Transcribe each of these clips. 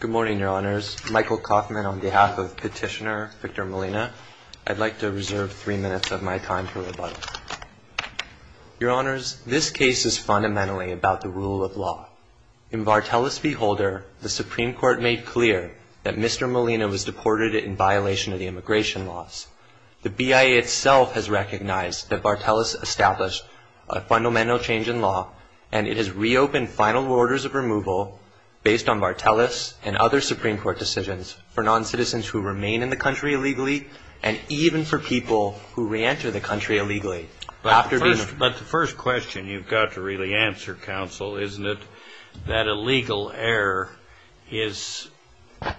Good morning, Your Honors. Michael Kaufman on behalf of Petitioner Victor Molina. I'd like to reserve three minutes of my time for rebuttal. Your Honors, this case is fundamentally about the rule of law. In Vartelis v. Holder, the Supreme Court made clear that Mr. Molina was deported in violation of the immigration laws. The BIA itself has recognized that Vartelis established a fundamental change in law, and it has reopened final orders of removal based on Vartelis and other Supreme Court decisions for non-citizens who remain in the country illegally, and even for people who reenter the country illegally. But the first question you've got to really answer, Counsel, isn't it that a legal error is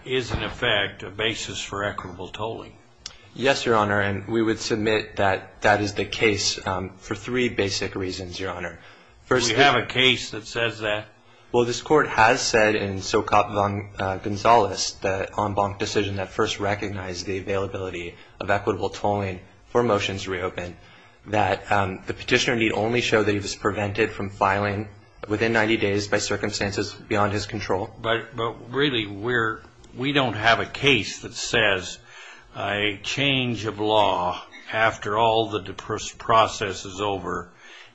in effect a basis for equitable tolling? Yes, Your Honor, and we would submit that that is the case for three basic reasons, Your Honor. Do we have a case that says that? Well, this Court has said in Socop v. Gonzales, the en banc decision that first recognized the availability of equitable tolling for motions reopened, that the Petitioner indeed only showed that he was prevented from filing within 90 days by circumstances beyond his control. But really, we don't have a case that says a change of law after all the process is over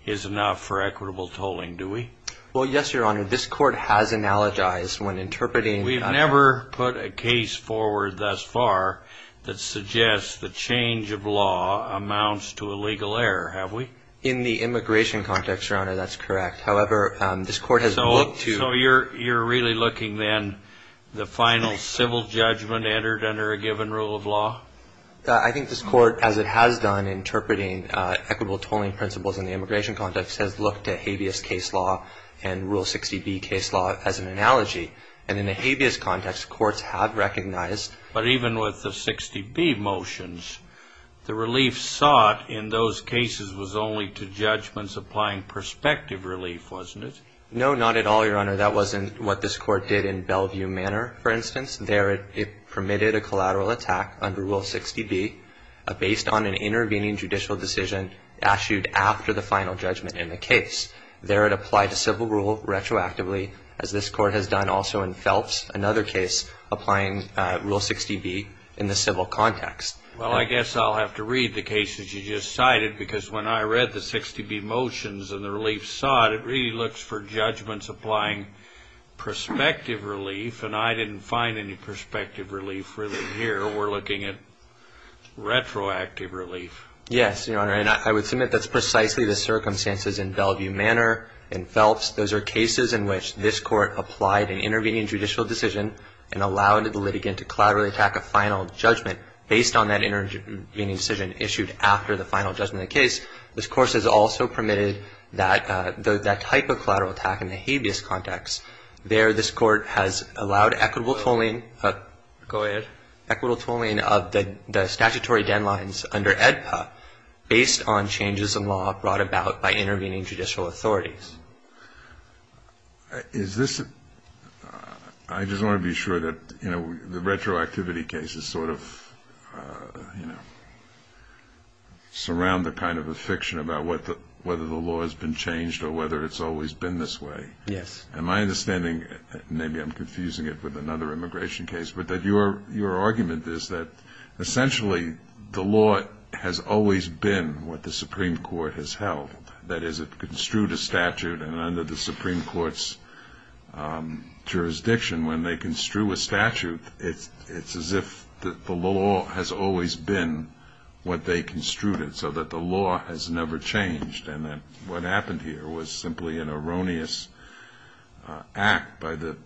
is enough for equitable tolling, do we? Well, yes, Your Honor. This Court has analogized when interpreting... We've never put a case forward thus far that suggests the change of law amounts to a legal error, have we? In the immigration context, Your Honor, that's correct. However, this Court has looked to... So you're really looking then, the final civil judgment entered under a given rule of law? I think this Court, as it has done interpreting equitable tolling principles in the immigration context, has looked at habeas case law and Rule 60B case law as an analogy. And in the habeas context, courts have recognized... But even with the 60B motions, the relief sought in those cases was only to judgments applying prospective relief, wasn't it? No, not at all, Your Honor. That wasn't what this Court did in Bellevue Manor, for instance. There, it permitted a collateral attack under Rule 60B based on an intervening judicial decision issued after the final judgment in the case. There, it applied a civil rule retroactively, as this Court has done also in Phelps, another case applying Rule 60B in the civil context. Well, I guess I'll have to read the cases you just cited, because when I read the 60B motions and the relief sought, it really looks for judgments applying prospective relief, and I didn't find any prospective relief here. We're looking at retroactive relief. Yes, Your Honor, and I would submit that's precisely the circumstances in Bellevue Manor and Phelps. Those are cases in which this Court applied an intervening judicial decision and allowed the litigant to collaterally attack a final judgment based on that intervening decision issued after the final judgment in the case. This Course has also permitted that type of collateral attack in the habeas context. There, this Court has allowed equitable tolling of the statutory deadlines under AEDPA based on changes in law brought about by intervening judicial authorities. Is this – I just want to be sure that, you know, the retroactivity cases sort of, you know, surround the kind of affliction about whether the law has been changed or whether it's always been this way. Yes. And my understanding – maybe I'm confusing it with another immigration case – but that your argument is that essentially the law has always been what the Supreme Court has held. That is, it construed a statute, and under the Supreme Court's jurisdiction, when they construe a statute, it's as if the law has always been what they construed it so that the law has never changed. And that what happened here was simply an erroneous act by the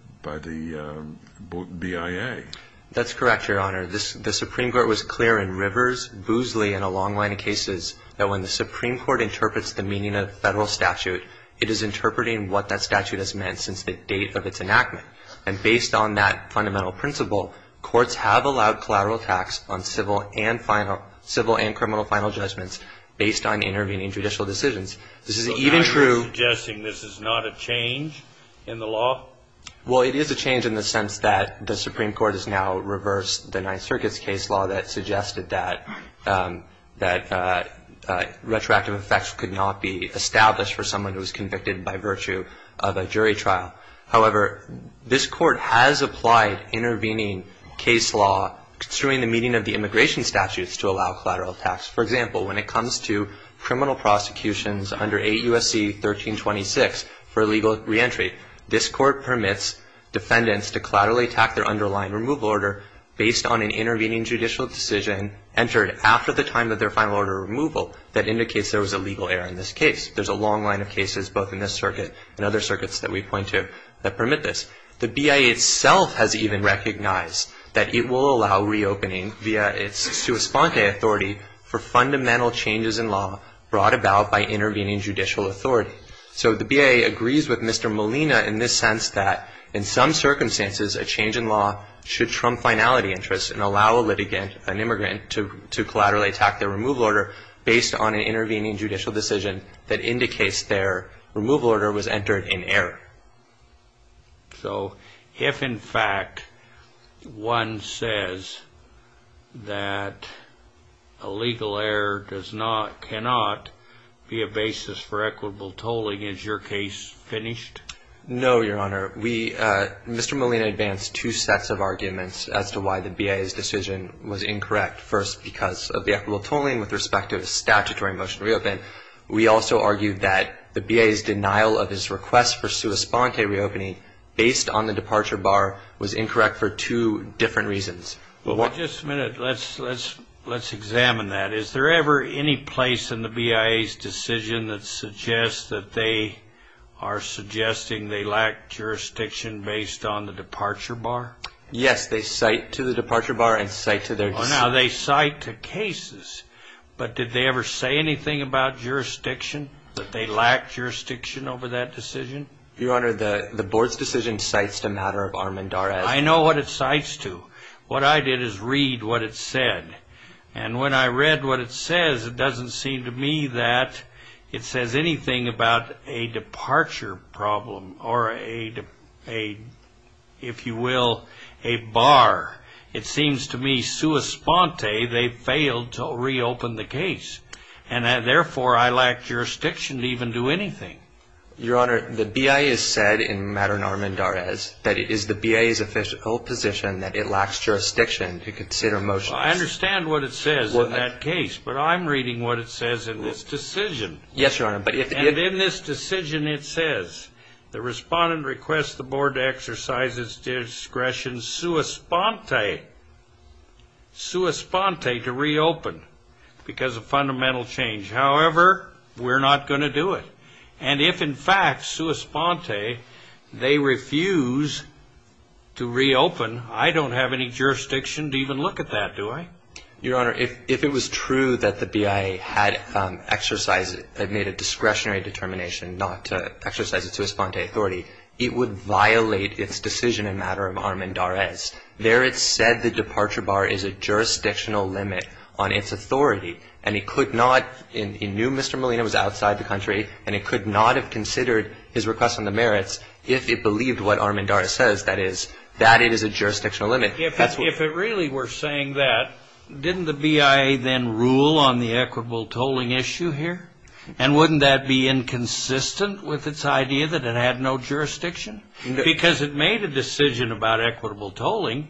BIA. That's correct, Your Honor. The Supreme Court was clear in Rivers, Boosley, and a long line of cases that when the Supreme Court interprets the meaning of a federal statute, it is interpreting what that statute has meant since the date of its enactment. And based on that fundamental principle, Courts have allowed collateral attacks on civil and final – civil and criminal final judgments based on intervening judicial decisions. This is even true – So now you're suggesting this is not a change in the law? Well, it is a change in the sense that the Supreme Court has now reversed the Ninth Circuit's case law that suggested that retroactive effects could not be established for someone who was convicted by virtue of a jury trial. However, this Court has applied intervening case law, considering the meaning of the immigration statutes, to allow collateral attacks. For example, when it comes to criminal prosecutions under 8 U.S.C. 1326 for illegal reentry, this Court permits defendants to collaterally attack their underlying removal order based on an intervening judicial decision entered after the time of their final order removal that indicates there was a legal error in this case. There's a long line of cases, both in this circuit and other circuits that we point to, that permit this. The BIA itself has even recognized that it will allow reopening via its sua sponte authority for fundamental changes in law brought about by intervening judicial authority. So the BIA agrees with Mr. Molina in this sense that, in some circumstances, a change in law should trump finality interests and allow a litigant, an immigrant, to collaterally attack their removal order based on an intervening judicial decision that indicates their removal order was entered in error. So if, in fact, one says that a legal error does not, cannot, be a basis for equitable tolling, is your case finished? No, Your Honor. We, Mr. Molina, advanced two sets of arguments as to why the BIA's decision was incorrect. First, because of the equitable tolling with respect to the statutory motion to reopen. We also argued that the BIA's denial of his request for sua sponte reopening based on the departure bar was incorrect for two different reasons. Well, just a minute. Let's examine that. Is there ever any place in the BIA's decision that suggests that they are suggesting they lack jurisdiction based on the departure bar? They cite cases, but did they ever say anything about jurisdiction, that they lacked jurisdiction over that decision? Your Honor, the Board's decision cites the matter of Armendariz. I know what it cites to. What I did is read what it said. And when I read what it says, it doesn't seem to me that it says anything about a departure problem or a, if you will, a bar. It seems to me sua sponte they failed to reopen the case. And therefore, I lack jurisdiction to even do anything. Your Honor, the BIA has said in matter of Armendariz that it is the BIA's official position that it lacks jurisdiction to consider motions. Well, I understand what it says in that case. But I'm reading what it says in this decision. Yes, Your Honor. And in this decision, it says the respondent requests the Board to exercise its discretion sua sponte, sua sponte to reopen because of fundamental change. However, we're not going to do it. And if, in fact, sua sponte, they refuse to reopen, I don't have any jurisdiction to even look at that, do I? Your Honor, if it was true that the BIA had exercised, had made a discretionary determination not to exercise its sua sponte authority, it would violate its decision in matter of Armendariz. There it said the departure bar is a jurisdictional limit on its authority. And it could not, it knew Mr. Molina was outside the country, and it could not have considered his request on the merits if it believed what Armendariz says, that is, that it is a jurisdictional limit. If it really were saying that, didn't the BIA then rule on the equitable tolling issue here? And wouldn't that be inconsistent with its idea that it had no jurisdiction? Because it made a decision about equitable tolling,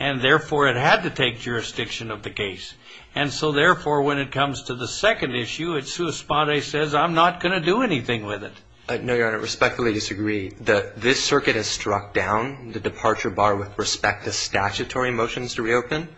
and therefore, it had to take jurisdiction of the case. And so, therefore, when it comes to the second issue, its sua sponte says, I'm not going to do anything with it. No, Your Honor, I respectfully disagree. This circuit has struck down the departure bar with respect to statutory motions to reopen,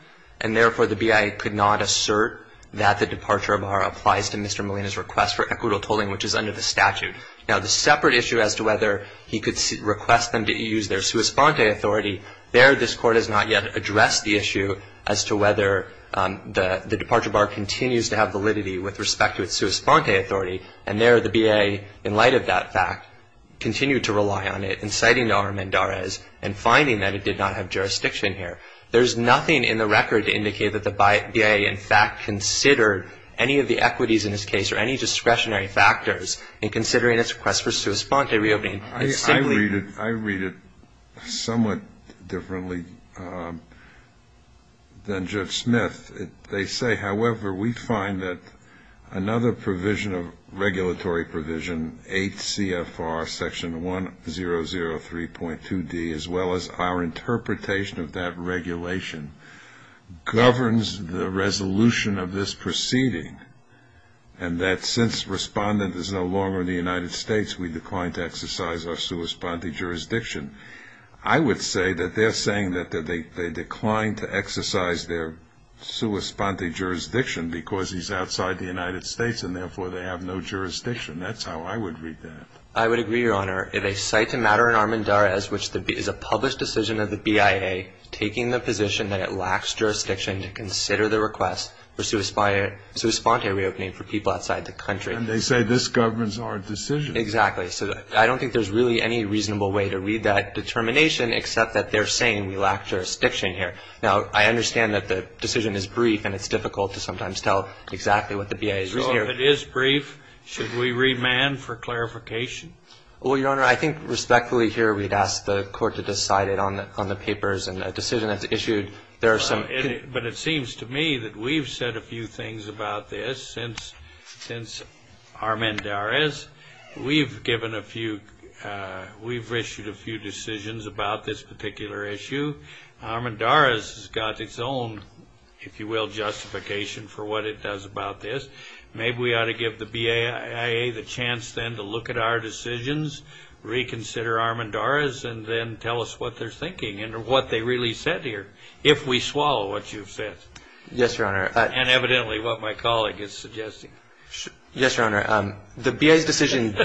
and therefore, the BIA could not assert that the departure bar applies to Mr. Molina's request for equitable tolling, which is under the statute. Now, the separate issue as to whether he could request them to use their sua sponte authority, there, this Court has not yet addressed the issue as to whether the departure bar continues to have validity with respect to its sua sponte authority. And there, the BIA, in light of that fact, continued to rely on it, inciting Armendariz and finding that it did not have jurisdiction here. There's nothing in the record to indicate that the BIA, in fact, considered any of the equities in this case, or any discretionary factors in considering its request for sua sponte reopening. It's simply — I read it somewhat differently than Judge Smith. They say, however, we find that another provision of regulatory provision, 8 CFR section 1003.2d, as well as our interpretation of that regulation, governs the resolution of this proceeding, and that since Respondent is no longer in the United States, we decline to exercise our sua sponte jurisdiction. I would say that they're saying that they decline to exercise their sua sponte jurisdiction because he's outside the United States, and therefore, they have no jurisdiction. That's how I would read that. I would agree, Your Honor. They cite the matter in Armendariz, which is a published decision of the BIA taking the position that it lacks jurisdiction to consider the request for sua sponte reopening for people outside the country. And they say this governs our decision. Exactly. So I don't think there's really any reasonable way to read that determination, except that they're saying we lack jurisdiction here. Now, I understand that the decision is brief, and it's difficult to sometimes tell exactly what the BIA is reasoning. So if it is brief, should we remand for clarification? Well, Your Honor, I think respectfully here, we'd ask the Court to decide it on the papers. And the decision that's issued, there are some Well, but it seems to me that we've said a few things about this since Armendariz. We've given a few, we've issued a few decisions about this particular issue. Armendariz has got its own, if you will, justification for what it does about this. Maybe we ought to give the BIA the chance then to look at our decisions, reconsider Armendariz, and then tell us what they're thinking and what they really said here, if we swallow what you've said. Yes, Your Honor. And evidently what my colleague is suggesting. Yes, Your Honor, the BIA's decision,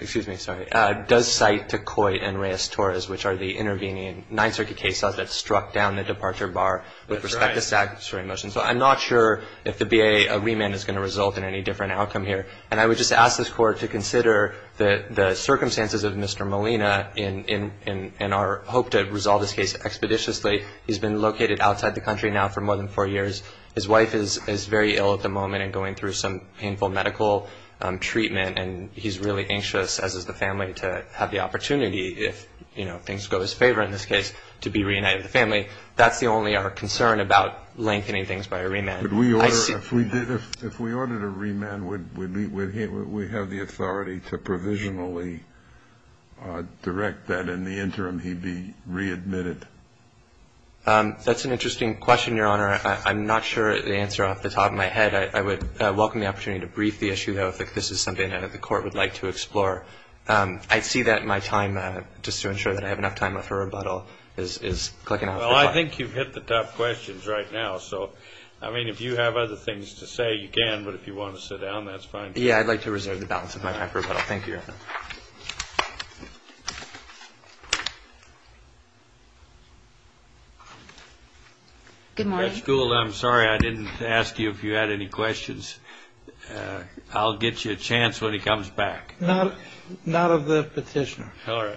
excuse me, sorry, does cite to Coit and Reyes-Torres, which are the intervening Ninth Circuit case files that struck down the departure bar with respect to statutory motions. I'm not sure if the BIA remand is going to result in any different outcome here. And I would just ask this Court to consider the circumstances of Mr. Molina in our hope to resolve this case expeditiously. He's been located outside the country now for more than four years. His wife is very ill at the moment and going through some painful medical treatment, and he's really anxious, as is the family, to have the opportunity, if things go his favor in this case, to be reunited with the family. That's the only concern about lengthening things by a remand. But if we ordered a remand, would we have the authority to provisionally direct that in the interim he be readmitted? That's an interesting question, Your Honor. I'm not sure the answer off the top of my head. I would welcome the opportunity to brief the issue, though, if this is something that the Court would like to explore. I'd see that in my time, just to ensure that I have enough time before rebuttal is clicking off. I think you've hit the top questions right now. So, I mean, if you have other things to say, you can. But if you want to sit down, that's fine. Yeah, I'd like to reserve the balance of my time for rebuttal. Thank you, Your Honor. Good morning. Judge Gould, I'm sorry I didn't ask you if you had any questions. I'll get you a chance when he comes back. All right.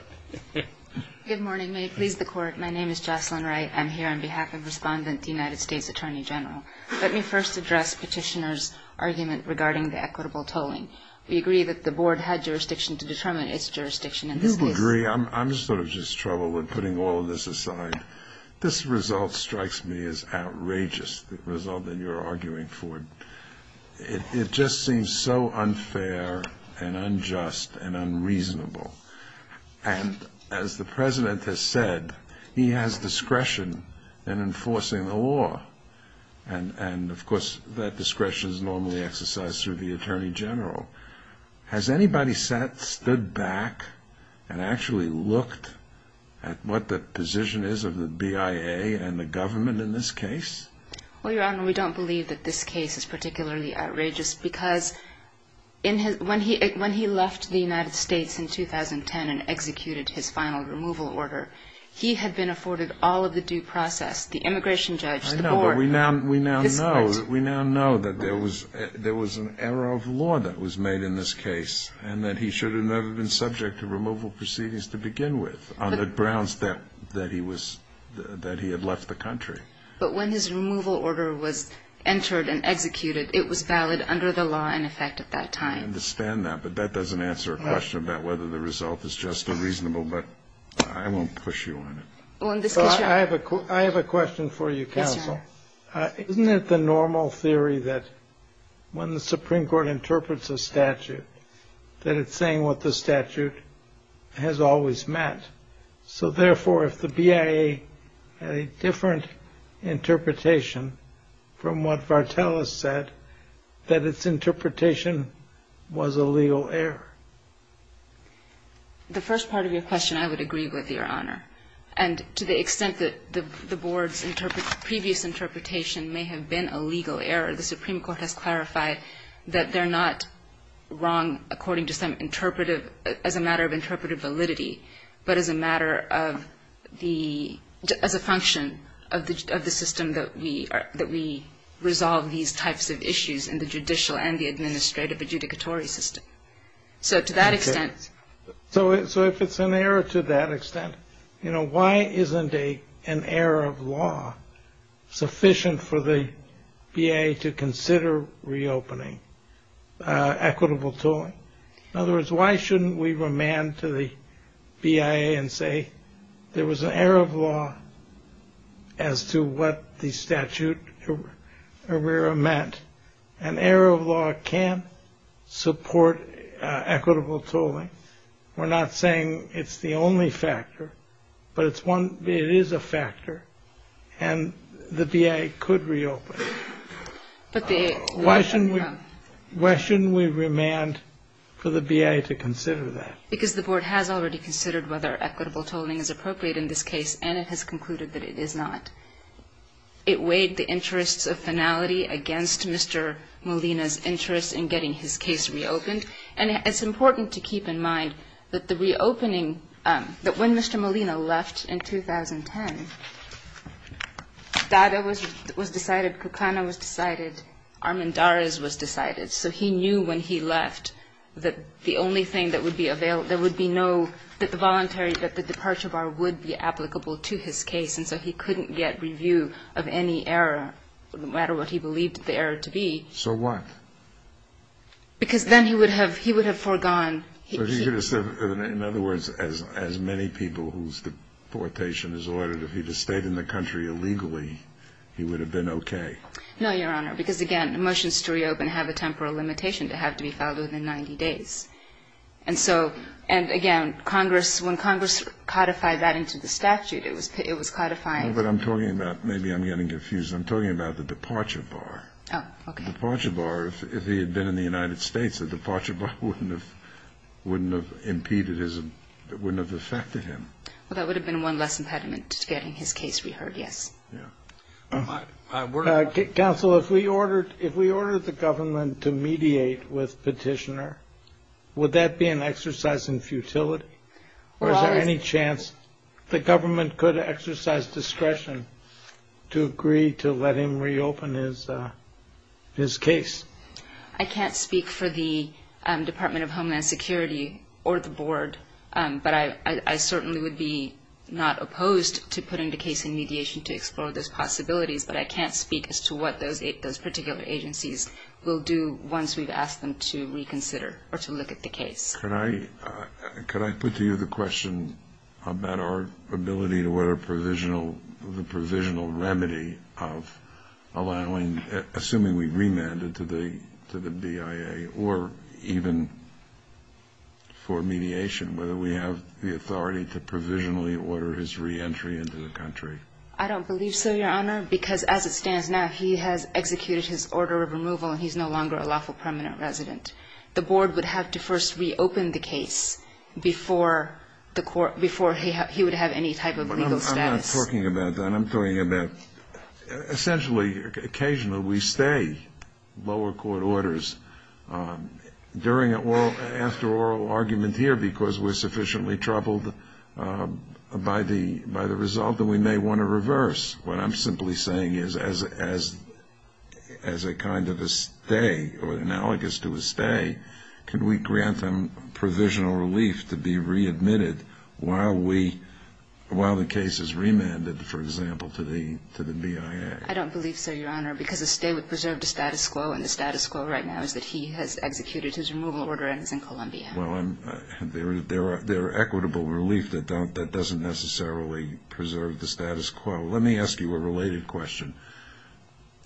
Good morning. May it please the Court. My name is Jocelyn Wright. I'm here on behalf of Respondent, the United States Attorney General. Let me first address Petitioner's argument regarding the equitable tolling. We agree that the Board had jurisdiction to determine its jurisdiction in this case. We agree. I'm sort of just troubled with putting all of this aside. This result strikes me as outrageous, the result that you're arguing for. It just seems so unfair and unjust and unreasonable. And as the President has said, he has discretion in enforcing the law. And of course, that discretion is normally exercised through the Attorney General. Has anybody stood back and actually looked at what the position is of the BIA and the government in this case? Well, Your Honor, we don't believe that this case is particularly outrageous because in his, when he left the United States in 2010 and executed his final removal order, he had been afforded all of the due process. The immigration judge, the Board. I know, but we now know, we now know that there was an error of law that was made in this case and that he should have never been subject to removal proceedings to begin with on the grounds that he was, that he had left the country. But when his removal order was entered and executed, it was valid under the law in effect at that time. I understand that, but that doesn't answer a question about whether the result is just unreasonable, but I won't push you on it. Well, in this case, Your Honor. I have a question for you, counsel. Yes, Your Honor. Isn't it the normal theory that when the Supreme Court interprets a statute, that it's saying what the statute has always meant? So therefore, if the BIA had a different interpretation from what Vartel has said, that its interpretation was a legal error. The first part of your question, I would agree with, Your Honor. And to the extent that the Board's previous interpretation may have been a legal error, the Supreme Court has clarified that they're not wrong according to some interpretive, as a matter of interpretive validity, but as a matter of the, as a function of the system that we are, that we resolve these types of issues in the judicial and the administrative adjudicatory system. So to that extent. So, so if it's an error to that extent, you know, why isn't a, an error of law sufficient for the BIA to consider reopening equitable tooling? In other words, why shouldn't we remand to the BIA and say, there was an error of law as to what the statute errata meant. An error of law can't support equitable tooling. We're not saying it's the only factor, but it's one, it is a factor. And the BIA could reopen. But why shouldn't we, why shouldn't we remand for the BIA to consider that? Because the Board has already considered whether equitable tooling is appropriate in this case, and it has concluded that it is not. It weighed the interests of finality against Mr. Molina's interest in getting his case reopened. And it's important to keep in mind that the reopening, that when Mr. Molina left in 2010, Dada was, was decided, Kukana was decided, Armendariz was decided. So he knew when he left that the only thing that would be available, there would be no, that the voluntary, that the departure bar would be applicable to his case. And so he couldn't get review of any error, no matter what he believed the error to be. So what? Because then he would have, he would have foregone. So you're going to say, in other words, as, as many people whose deportation is ordered if he had stayed in the country illegally, he would have been okay? No, Your Honor. Because again, motions to reopen have a temporal limitation to have to be filed within 90 days. And so, and again, Congress, when Congress codified that into the statute, it was, it was codifying. But I'm talking about, maybe I'm getting confused. I'm talking about the departure bar. Oh, okay. The departure bar, if he had been in the United States, the departure bar wouldn't have, wouldn't have impeded his, wouldn't have affected him. Well, that would have been one less impediment to getting his case reheard. Yes. Counsel, if we ordered, if we ordered the government to mediate with petitioner, would that be an exercise in futility? Or is there any chance the government could exercise discretion to agree to let him reopen his, his case? But I, I certainly would be not opposed to putting the case in mediation to explore those possibilities. But I can't speak as to what those, those particular agencies will do once we've asked them to reconsider or to look at the case. Could I, could I put to you the question about our ability to order provisional, the provisional remedy of allowing, assuming we remanded to the, to the BIA, or even for mediation, whether we have the authority to provisionally order his reentry into the country? I don't believe so, Your Honor, because as it stands now, he has executed his order of removal and he's no longer a lawful permanent resident. The board would have to first reopen the case before the court, before he, he would have any type of legal status. I'm not talking about that. I'm talking about essentially, occasionally we stay lower court orders during oral, after oral argument here because we're sufficiently troubled by the, by the result that we may want to reverse. What I'm simply saying is as, as, as a kind of a stay or analogous to a stay, can we grant them provisional relief to be readmitted while we, while the case is remanded, for example, to the, to the BIA? I don't believe so, Your Honor, because a stay would preserve the status quo and the Well, I'm, there are, there are equitable relief that don't, that doesn't necessarily preserve the status quo. Let me ask you a related question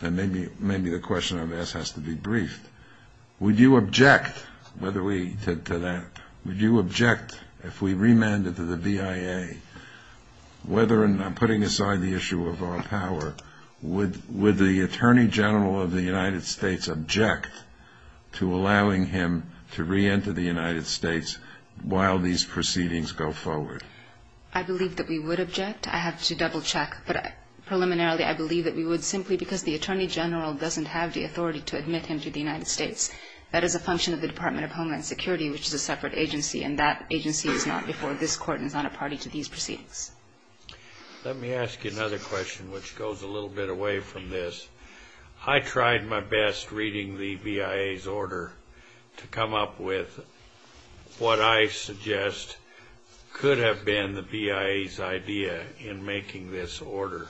and maybe, maybe the question I've asked has to be briefed. Would you object whether we, to that, would you object if we remanded to the BIA, whether and I'm putting aside the issue of our power, would, would the Attorney General of the United States while these proceedings go forward? I believe that we would object. I have to double check, but preliminarily, I believe that we would simply because the Attorney General doesn't have the authority to admit him to the United States. That is a function of the Department of Homeland Security, which is a separate agency, and that agency is not before this Court and is not a party to these proceedings. Let me ask you another question, which goes a little bit away from this. I tried my best reading the BIA's order to come up with what I suggest could have been the BIA's idea in making this order,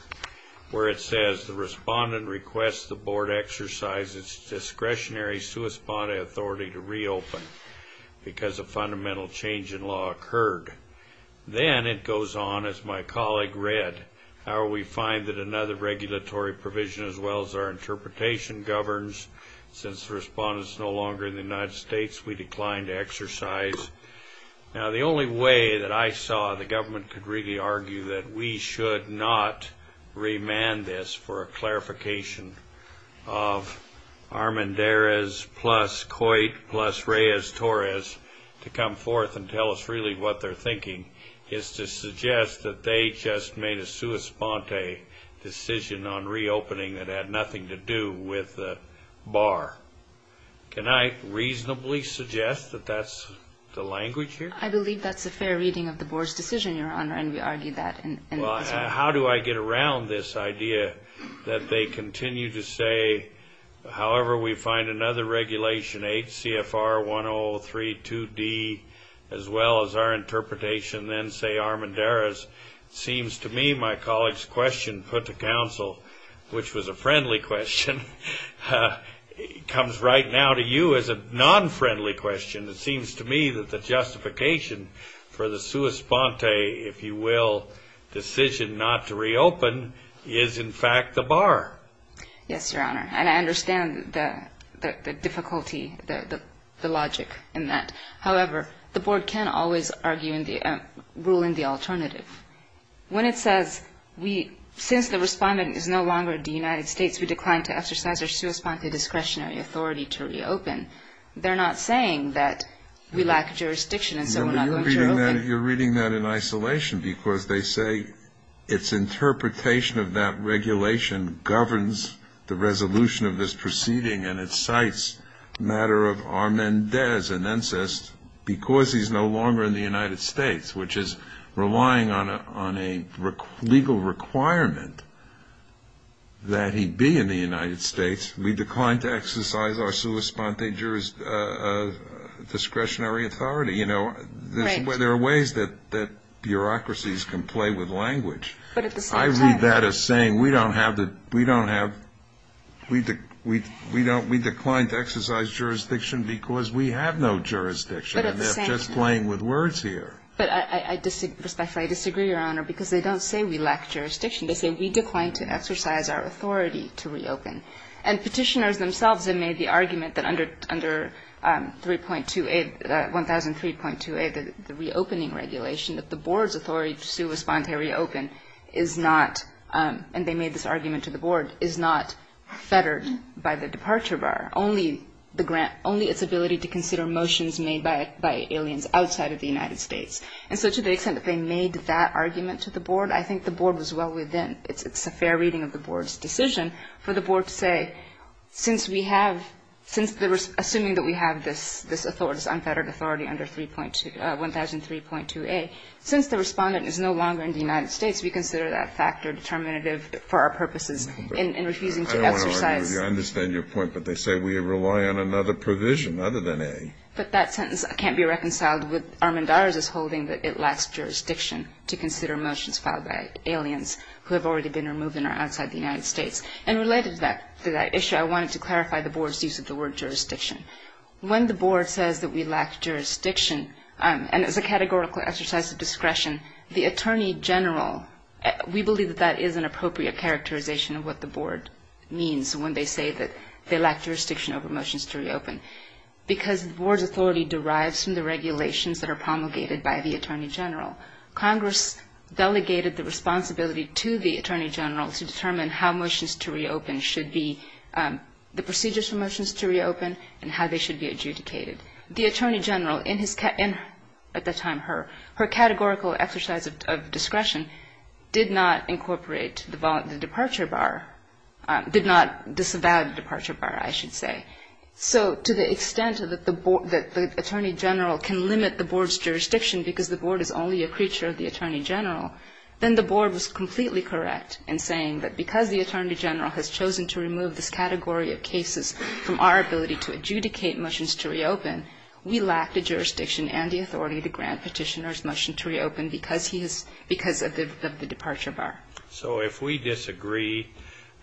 where it says, the respondent requests the Board exercise its discretionary, sui sponte authority to reopen because a fundamental change in law occurred. Then it goes on, as my colleague read, how we find that another regulatory provision as well as our interpretation governs, since the respondent is no longer in the United States, we decline to exercise. Now, the only way that I saw the government could really argue that we should not remand this for a clarification of Armendariz plus Coit plus Reyes-Torres to come forth and tell us really what they're thinking is to suggest that they just made a sui sponte decision on reopening that had nothing to do with the bar. Can I reasonably suggest that that's the language here? I believe that's a fair reading of the Board's decision, Your Honor, and we argue that. How do I get around this idea that they continue to say, however we find another regulation, 8 CFR 103 2D, as well as our interpretation, then say Armendariz, seems to me my colleague's put to counsel, which was a friendly question, comes right now to you as a non-friendly question. It seems to me that the justification for the sui sponte, if you will, decision not to reopen is, in fact, the bar. Yes, Your Honor, and I understand the difficulty, the logic in that. However, the Board can't always rule in the alternative. When it says, since the respondent is no longer in the United States, we decline to exercise our sui sponte discretionary authority to reopen, they're not saying that we lack jurisdiction and so we're not going to reopen. You're reading that in isolation because they say its interpretation of that regulation governs the resolution of this proceeding, and it cites the matter of Armendariz and Ancest because he's no longer in the United States, which is relying on a legal requirement that he be in the United States. We decline to exercise our sui sponte discretionary authority. You know, there are ways that bureaucracies can play with language, but I read that as saying we don't have the, we don't have, we decline to exercise jurisdiction because we have no jurisdiction, and they're just playing with words here. But I disagree, Your Honor, because they don't say we lack jurisdiction. They say we decline to exercise our authority to reopen. And petitioners themselves have made the argument that under 1003.28, the reopening regulation, that the Board's authority to sui sponte reopen is not, and they made this argument to the Board, is not fettered by the departure bar. Only the grant, only its ability to consider motions made by aliens outside of the United States. And so to the extent that they made that argument to the Board, I think the Board was well within, it's a fair reading of the Board's decision for the Board to say, since we have, assuming that we have this unfettered authority under 1003.28, since the respondent is no longer in the United States, we consider that factor determinative for our purposes in refusing to exercise. I understand your point, but they say we rely on another provision other than A. But that sentence can't be reconciled with Armendariz's holding that it lacks jurisdiction to consider motions filed by aliens who have already been removed and are outside the United States. And related to that issue, I wanted to clarify the Board's use of the word jurisdiction. When the Board says that we lack jurisdiction, and as a categorical exercise of discretion, the Attorney General, we believe that that is an appropriate characterization of what the Board means when they say that they lack jurisdiction over motions to reopen. Because the Board's authority derives from the regulations that are promulgated by the Attorney General, Congress delegated the responsibility to the Attorney General to determine how motions to reopen should be, the procedures for motions to reopen, and how they should be adjudicated. The Attorney General, at the time her, her categorical exercise of discretion did not incorporate the departure bar, did not disavow the departure bar, I should say. So to the extent that the Attorney General can limit the Board's jurisdiction because the Board is only a creature of the Attorney General, then the Board was completely correct in saying that because the Attorney General has chosen to remove this category of cases from our ability to adjudicate motions to reopen, we lack the jurisdiction and the authority to grant Petitioner's motion to reopen because he has, because of the departure bar. So if we disagree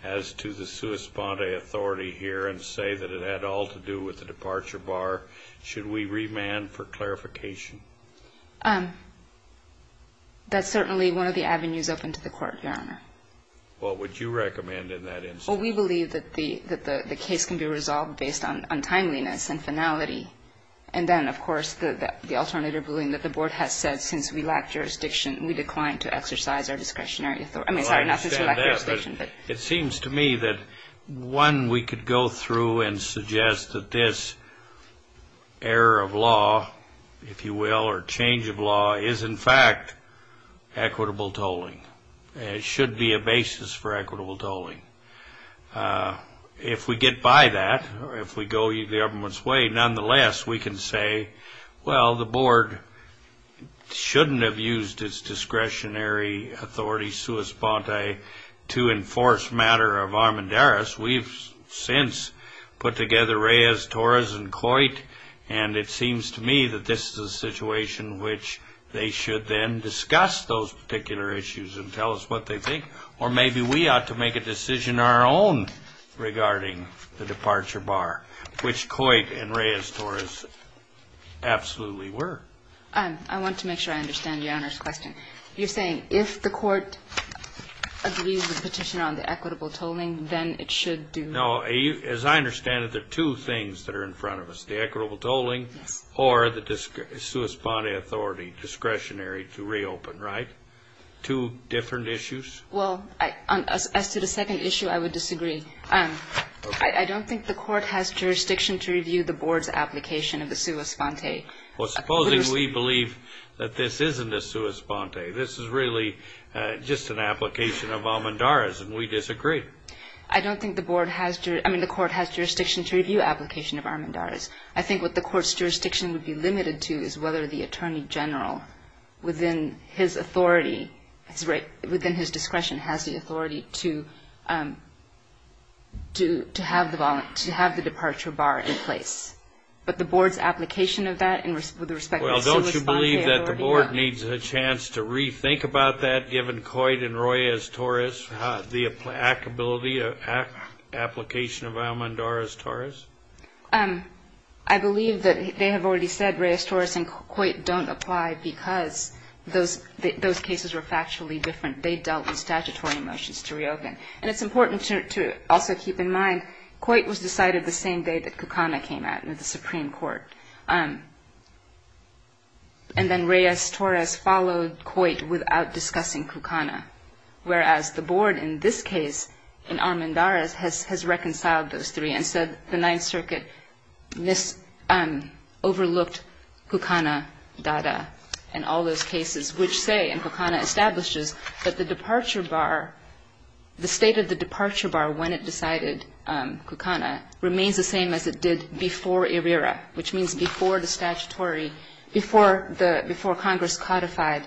as to the sua sponte authority here and say that it had all to do with the departure bar, should we remand for clarification? That's certainly one of the avenues open to the Court, Your Honor. What would you recommend in that instance? Well, we believe that the case can be resolved based on timeliness and finality. And then, of course, the alternative ruling that the Board has said since we lack jurisdiction, we decline to exercise our discretionary authority. I mean, sorry, not since we lack jurisdiction, but... It seems to me that one we could go through and suggest that this error of law, if you will, or change of law is, in fact, equitable tolling. It should be a basis for equitable tolling. If we get by that, if we go the government's way, nonetheless, we can say, well, the Board shouldn't have used its discretionary authority sua sponte to enforce matter of armandaris. We've since put together Reyes-Torres and Coit, and it seems to me that this is a situation which they should then discuss those particular issues and tell us what they think. Or maybe we ought to make a decision our own regarding the departure bar, which Coit and Reyes-Torres absolutely were. I want to make sure I understand Your Honor's question. You're saying if the Court agrees with the petition on the equitable tolling, then it should do... No, as I understand it, there are two things that are in front of us, the equitable tolling or the sua sponte authority discretionary to reopen, right? Two different issues. Well, as to the second issue, I would disagree. I don't think the Court has jurisdiction to review the Board's application of the sua sponte. Well, supposing we believe that this isn't a sua sponte, this is really just an application of armandaris, and we disagree. I don't think the Board has... I mean, the Court has jurisdiction to review application of armandaris. I think what the Court's jurisdiction would be limited to is whether the Attorney General, within his authority, within his discretion, has the authority to have the departure bar in place. But the Board's application of that with respect to the sua sponte authority... Well, don't you believe that the Board needs a chance to rethink about that, given Coit and Reyes-Torres, the applicability, application of armandaris-Torres? I believe that they have already said Reyes-Torres and Coit don't apply because those cases were factually different. They dealt with statutory motions to reopen. And it's important to also keep in mind, Coit was decided the same day that Kukana came out in the Supreme Court. And then Reyes-Torres followed Coit without discussing Kukana, whereas the Board in this case, in armandaris, has reconciled those three. And so the Ninth Circuit overlooked Kukana-Dada and all those cases, which say, and Kukana establishes, that the departure bar, the state of the departure bar when it decided Kukana remains the same as it did before ERIRA, which means before the statutory, before Congress codified,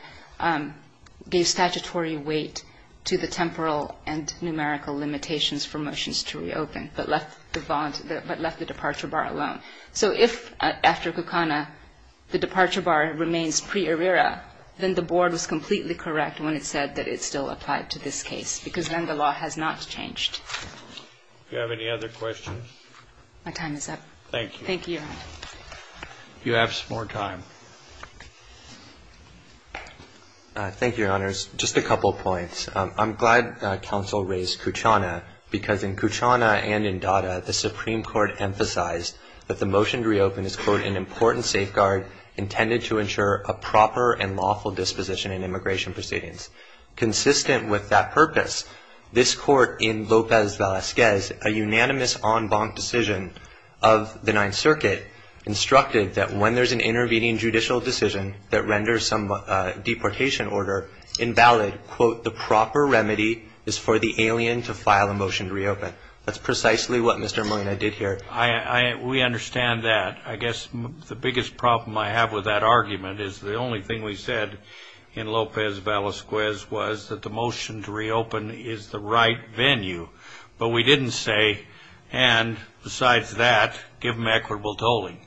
gave statutory weight to the temporal and numerical limitations for motions to reopen, but left the departure bar alone. So if, after Kukana, the departure bar remains pre-ERIRA, then the Board was completely correct when it said that it still applied to this case, because then the law has not changed. Do you have any other questions? My time is up. Thank you. Thank you, Your Honor. If you have some more time. Thank you, Your Honors. Just a couple of points. I'm glad counsel raised Kukana, because in Kukana and in Dada, the Supreme Court emphasized that the motion to reopen is, quote, an important safeguard intended to ensure a proper and lawful disposition in immigration proceedings. Consistent with that purpose, this Court in Lopez Velasquez, a unanimous en banc decision of the Ninth Circuit, instructed that when there's an intervening judicial decision that renders some deportation order invalid, quote, the proper remedy is for the alien to file a motion to reopen. That's precisely what Mr. Molina did here. We understand that. I guess the biggest problem I have with that argument is the only thing we said in Lopez Velasquez was that the motion to reopen is the right venue. But we didn't say, and besides that, give him equitable tolling.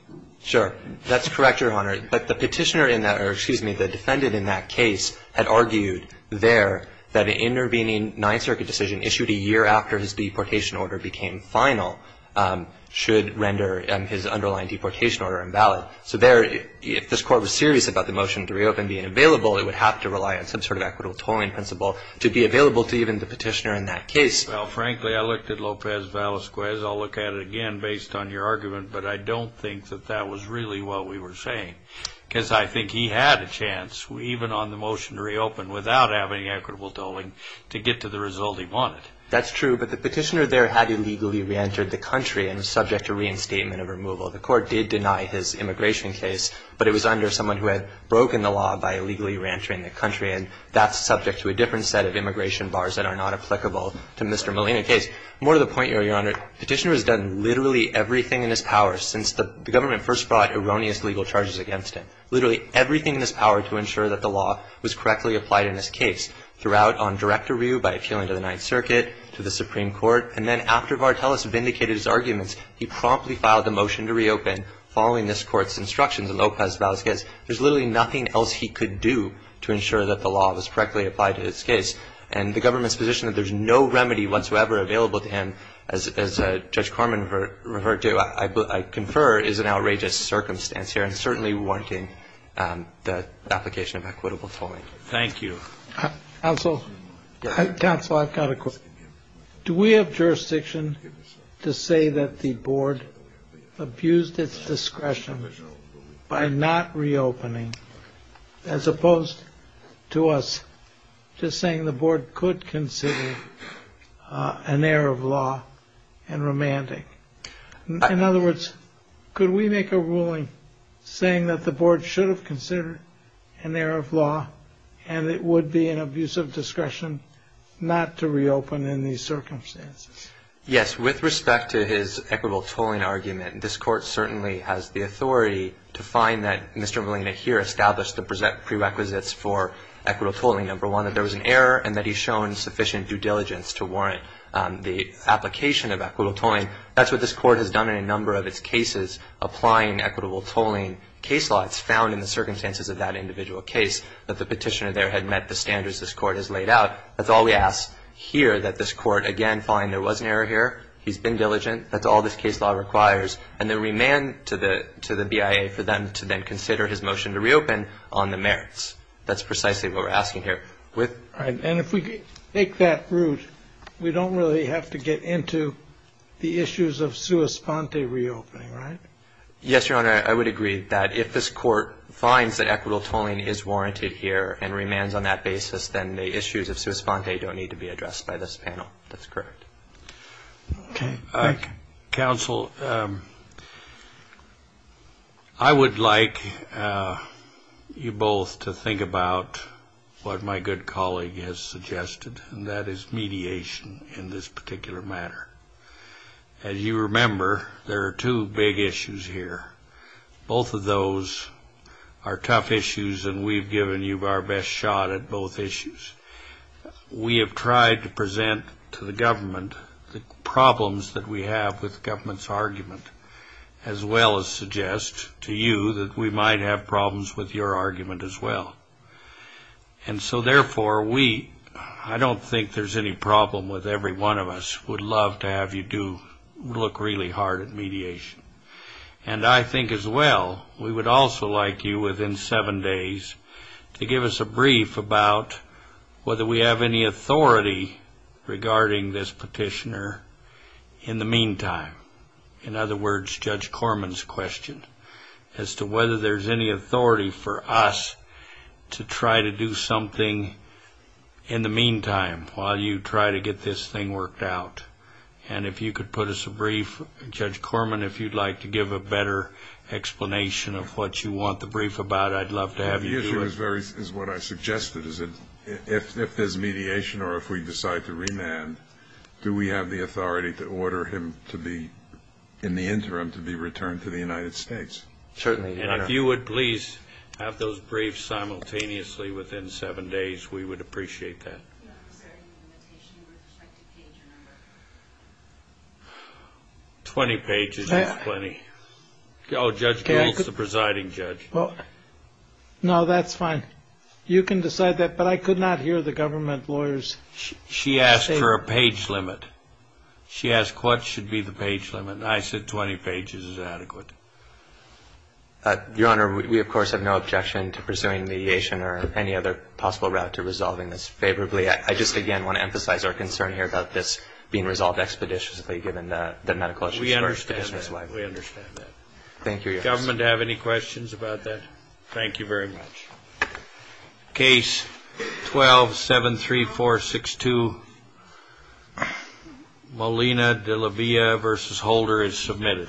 Sure. That's correct, Your Honor. But the petitioner in that, or excuse me, the defendant in that case had argued there that an intervening Ninth Circuit decision issued a year after his deportation order became final should render his underlying deportation order invalid. So there, if this Court was serious about the motion to reopen being available, it would have to rely on some sort of equitable tolling principle to be available to even the petitioner in that case. Well, frankly, I looked at Lopez Velasquez. I'll look at it again based on your argument. But I don't think that that was really what we were saying. Because I think he had a chance, even on the motion to reopen, without having equitable tolling to get to the result he wanted. That's true. But the petitioner there had illegally reentered the country and was subject to reinstatement of removal. The Court did deny his immigration case. But it was under someone who had broken the law by illegally reentering the country. And that's subject to a different set of immigration bars that are not applicable to Mr. Molina's case. More to the point, Your Honor, the petitioner has done literally everything in his power since the government first brought erroneous legal charges against him, literally everything in his power to ensure that the law was correctly applied in this case, throughout on direct review by appealing to the Ninth Circuit, to the Supreme Court. And then after Vartelis vindicated his arguments, he promptly filed the motion to reopen following this Court's instructions in Lopez Valdez's case. There's literally nothing else he could do to ensure that the law was correctly applied in this case. And the government's position that there's no remedy whatsoever available to him, as Judge Corman referred to, I confer, is an outrageous circumstance here, and certainly warranting the application of equitable tolling. Thank you. Counsel, counsel, I've got a question. Do we have jurisdiction to say that the board abused its discretion by not reopening, as opposed to us just saying the board could consider an error of law and remanding? In other words, could we make a ruling saying that the board should have considered an abusive discretion not to reopen in these circumstances? Yes. With respect to his equitable tolling argument, this Court certainly has the authority to find that Mr. Molina here established the prerequisites for equitable tolling, number one, that there was an error and that he's shown sufficient due diligence to warrant the application of equitable tolling. That's what this Court has done in a number of its cases applying equitable tolling case laws found in the circumstances of that individual case that the petitioner had met the standards this Court has laid out. That's all we ask here, that this Court, again, find there was an error here, he's been diligent, that's all this case law requires, and then remand to the BIA for them to then consider his motion to reopen on the merits. That's precisely what we're asking here. And if we take that route, we don't really have to get into the issues of sua sponte reopening, right? Yes, Your Honor, I would agree that if this Court finds that equitable tolling is warranted here and remands on that basis, then the issues of sua sponte don't need to be addressed by this panel. That's correct. Okay. Counsel, I would like you both to think about what my good colleague has suggested, and that is mediation in this particular matter. As you remember, there are two big issues here. Both of those are tough issues, and we've given you our best shot at both issues. We have tried to present to the government the problems that we have with government's argument, as well as suggest to you that we might have problems with your argument as well. And so therefore, we, I don't think there's any problem with every one of us, would love to have you do, look really hard at mediation. And I think as well, we would also like you within seven days to give us a brief about whether we have any authority regarding this petitioner in the meantime. In other words, Judge Corman's question as to whether there's any authority for us to try to do something in the meantime while you try to get this thing worked out. And if you could put us a brief, Judge Corman, if you'd like to give a better explanation of what you want the brief about, I'd love to have you do it. The issue is very, is what I suggested, is that if there's mediation or if we decide to remand, do we have the authority to order him to be, in the interim, to be returned to the United States? Certainly. And if you would please have those briefs simultaneously within seven days, we would appreciate that. 20 pages is plenty. Oh, Judge Gould's the presiding judge. No, that's fine. You can decide that. But I could not hear the government lawyers. She asked for a page limit. She asked what should be the page limit. I said 20 pages is adequate. Your Honor, we of course have no objection to pursuing mediation or any other possible route to resolving this favorably. I just, again, want to emphasize our concern here about this being resolved expeditiously, given the medical issues. We understand that. We understand that. Thank you, Your Honor. Government have any questions about that? Thank you very much. Case 12-73462, Molina de la Villa v. Holder is submitted.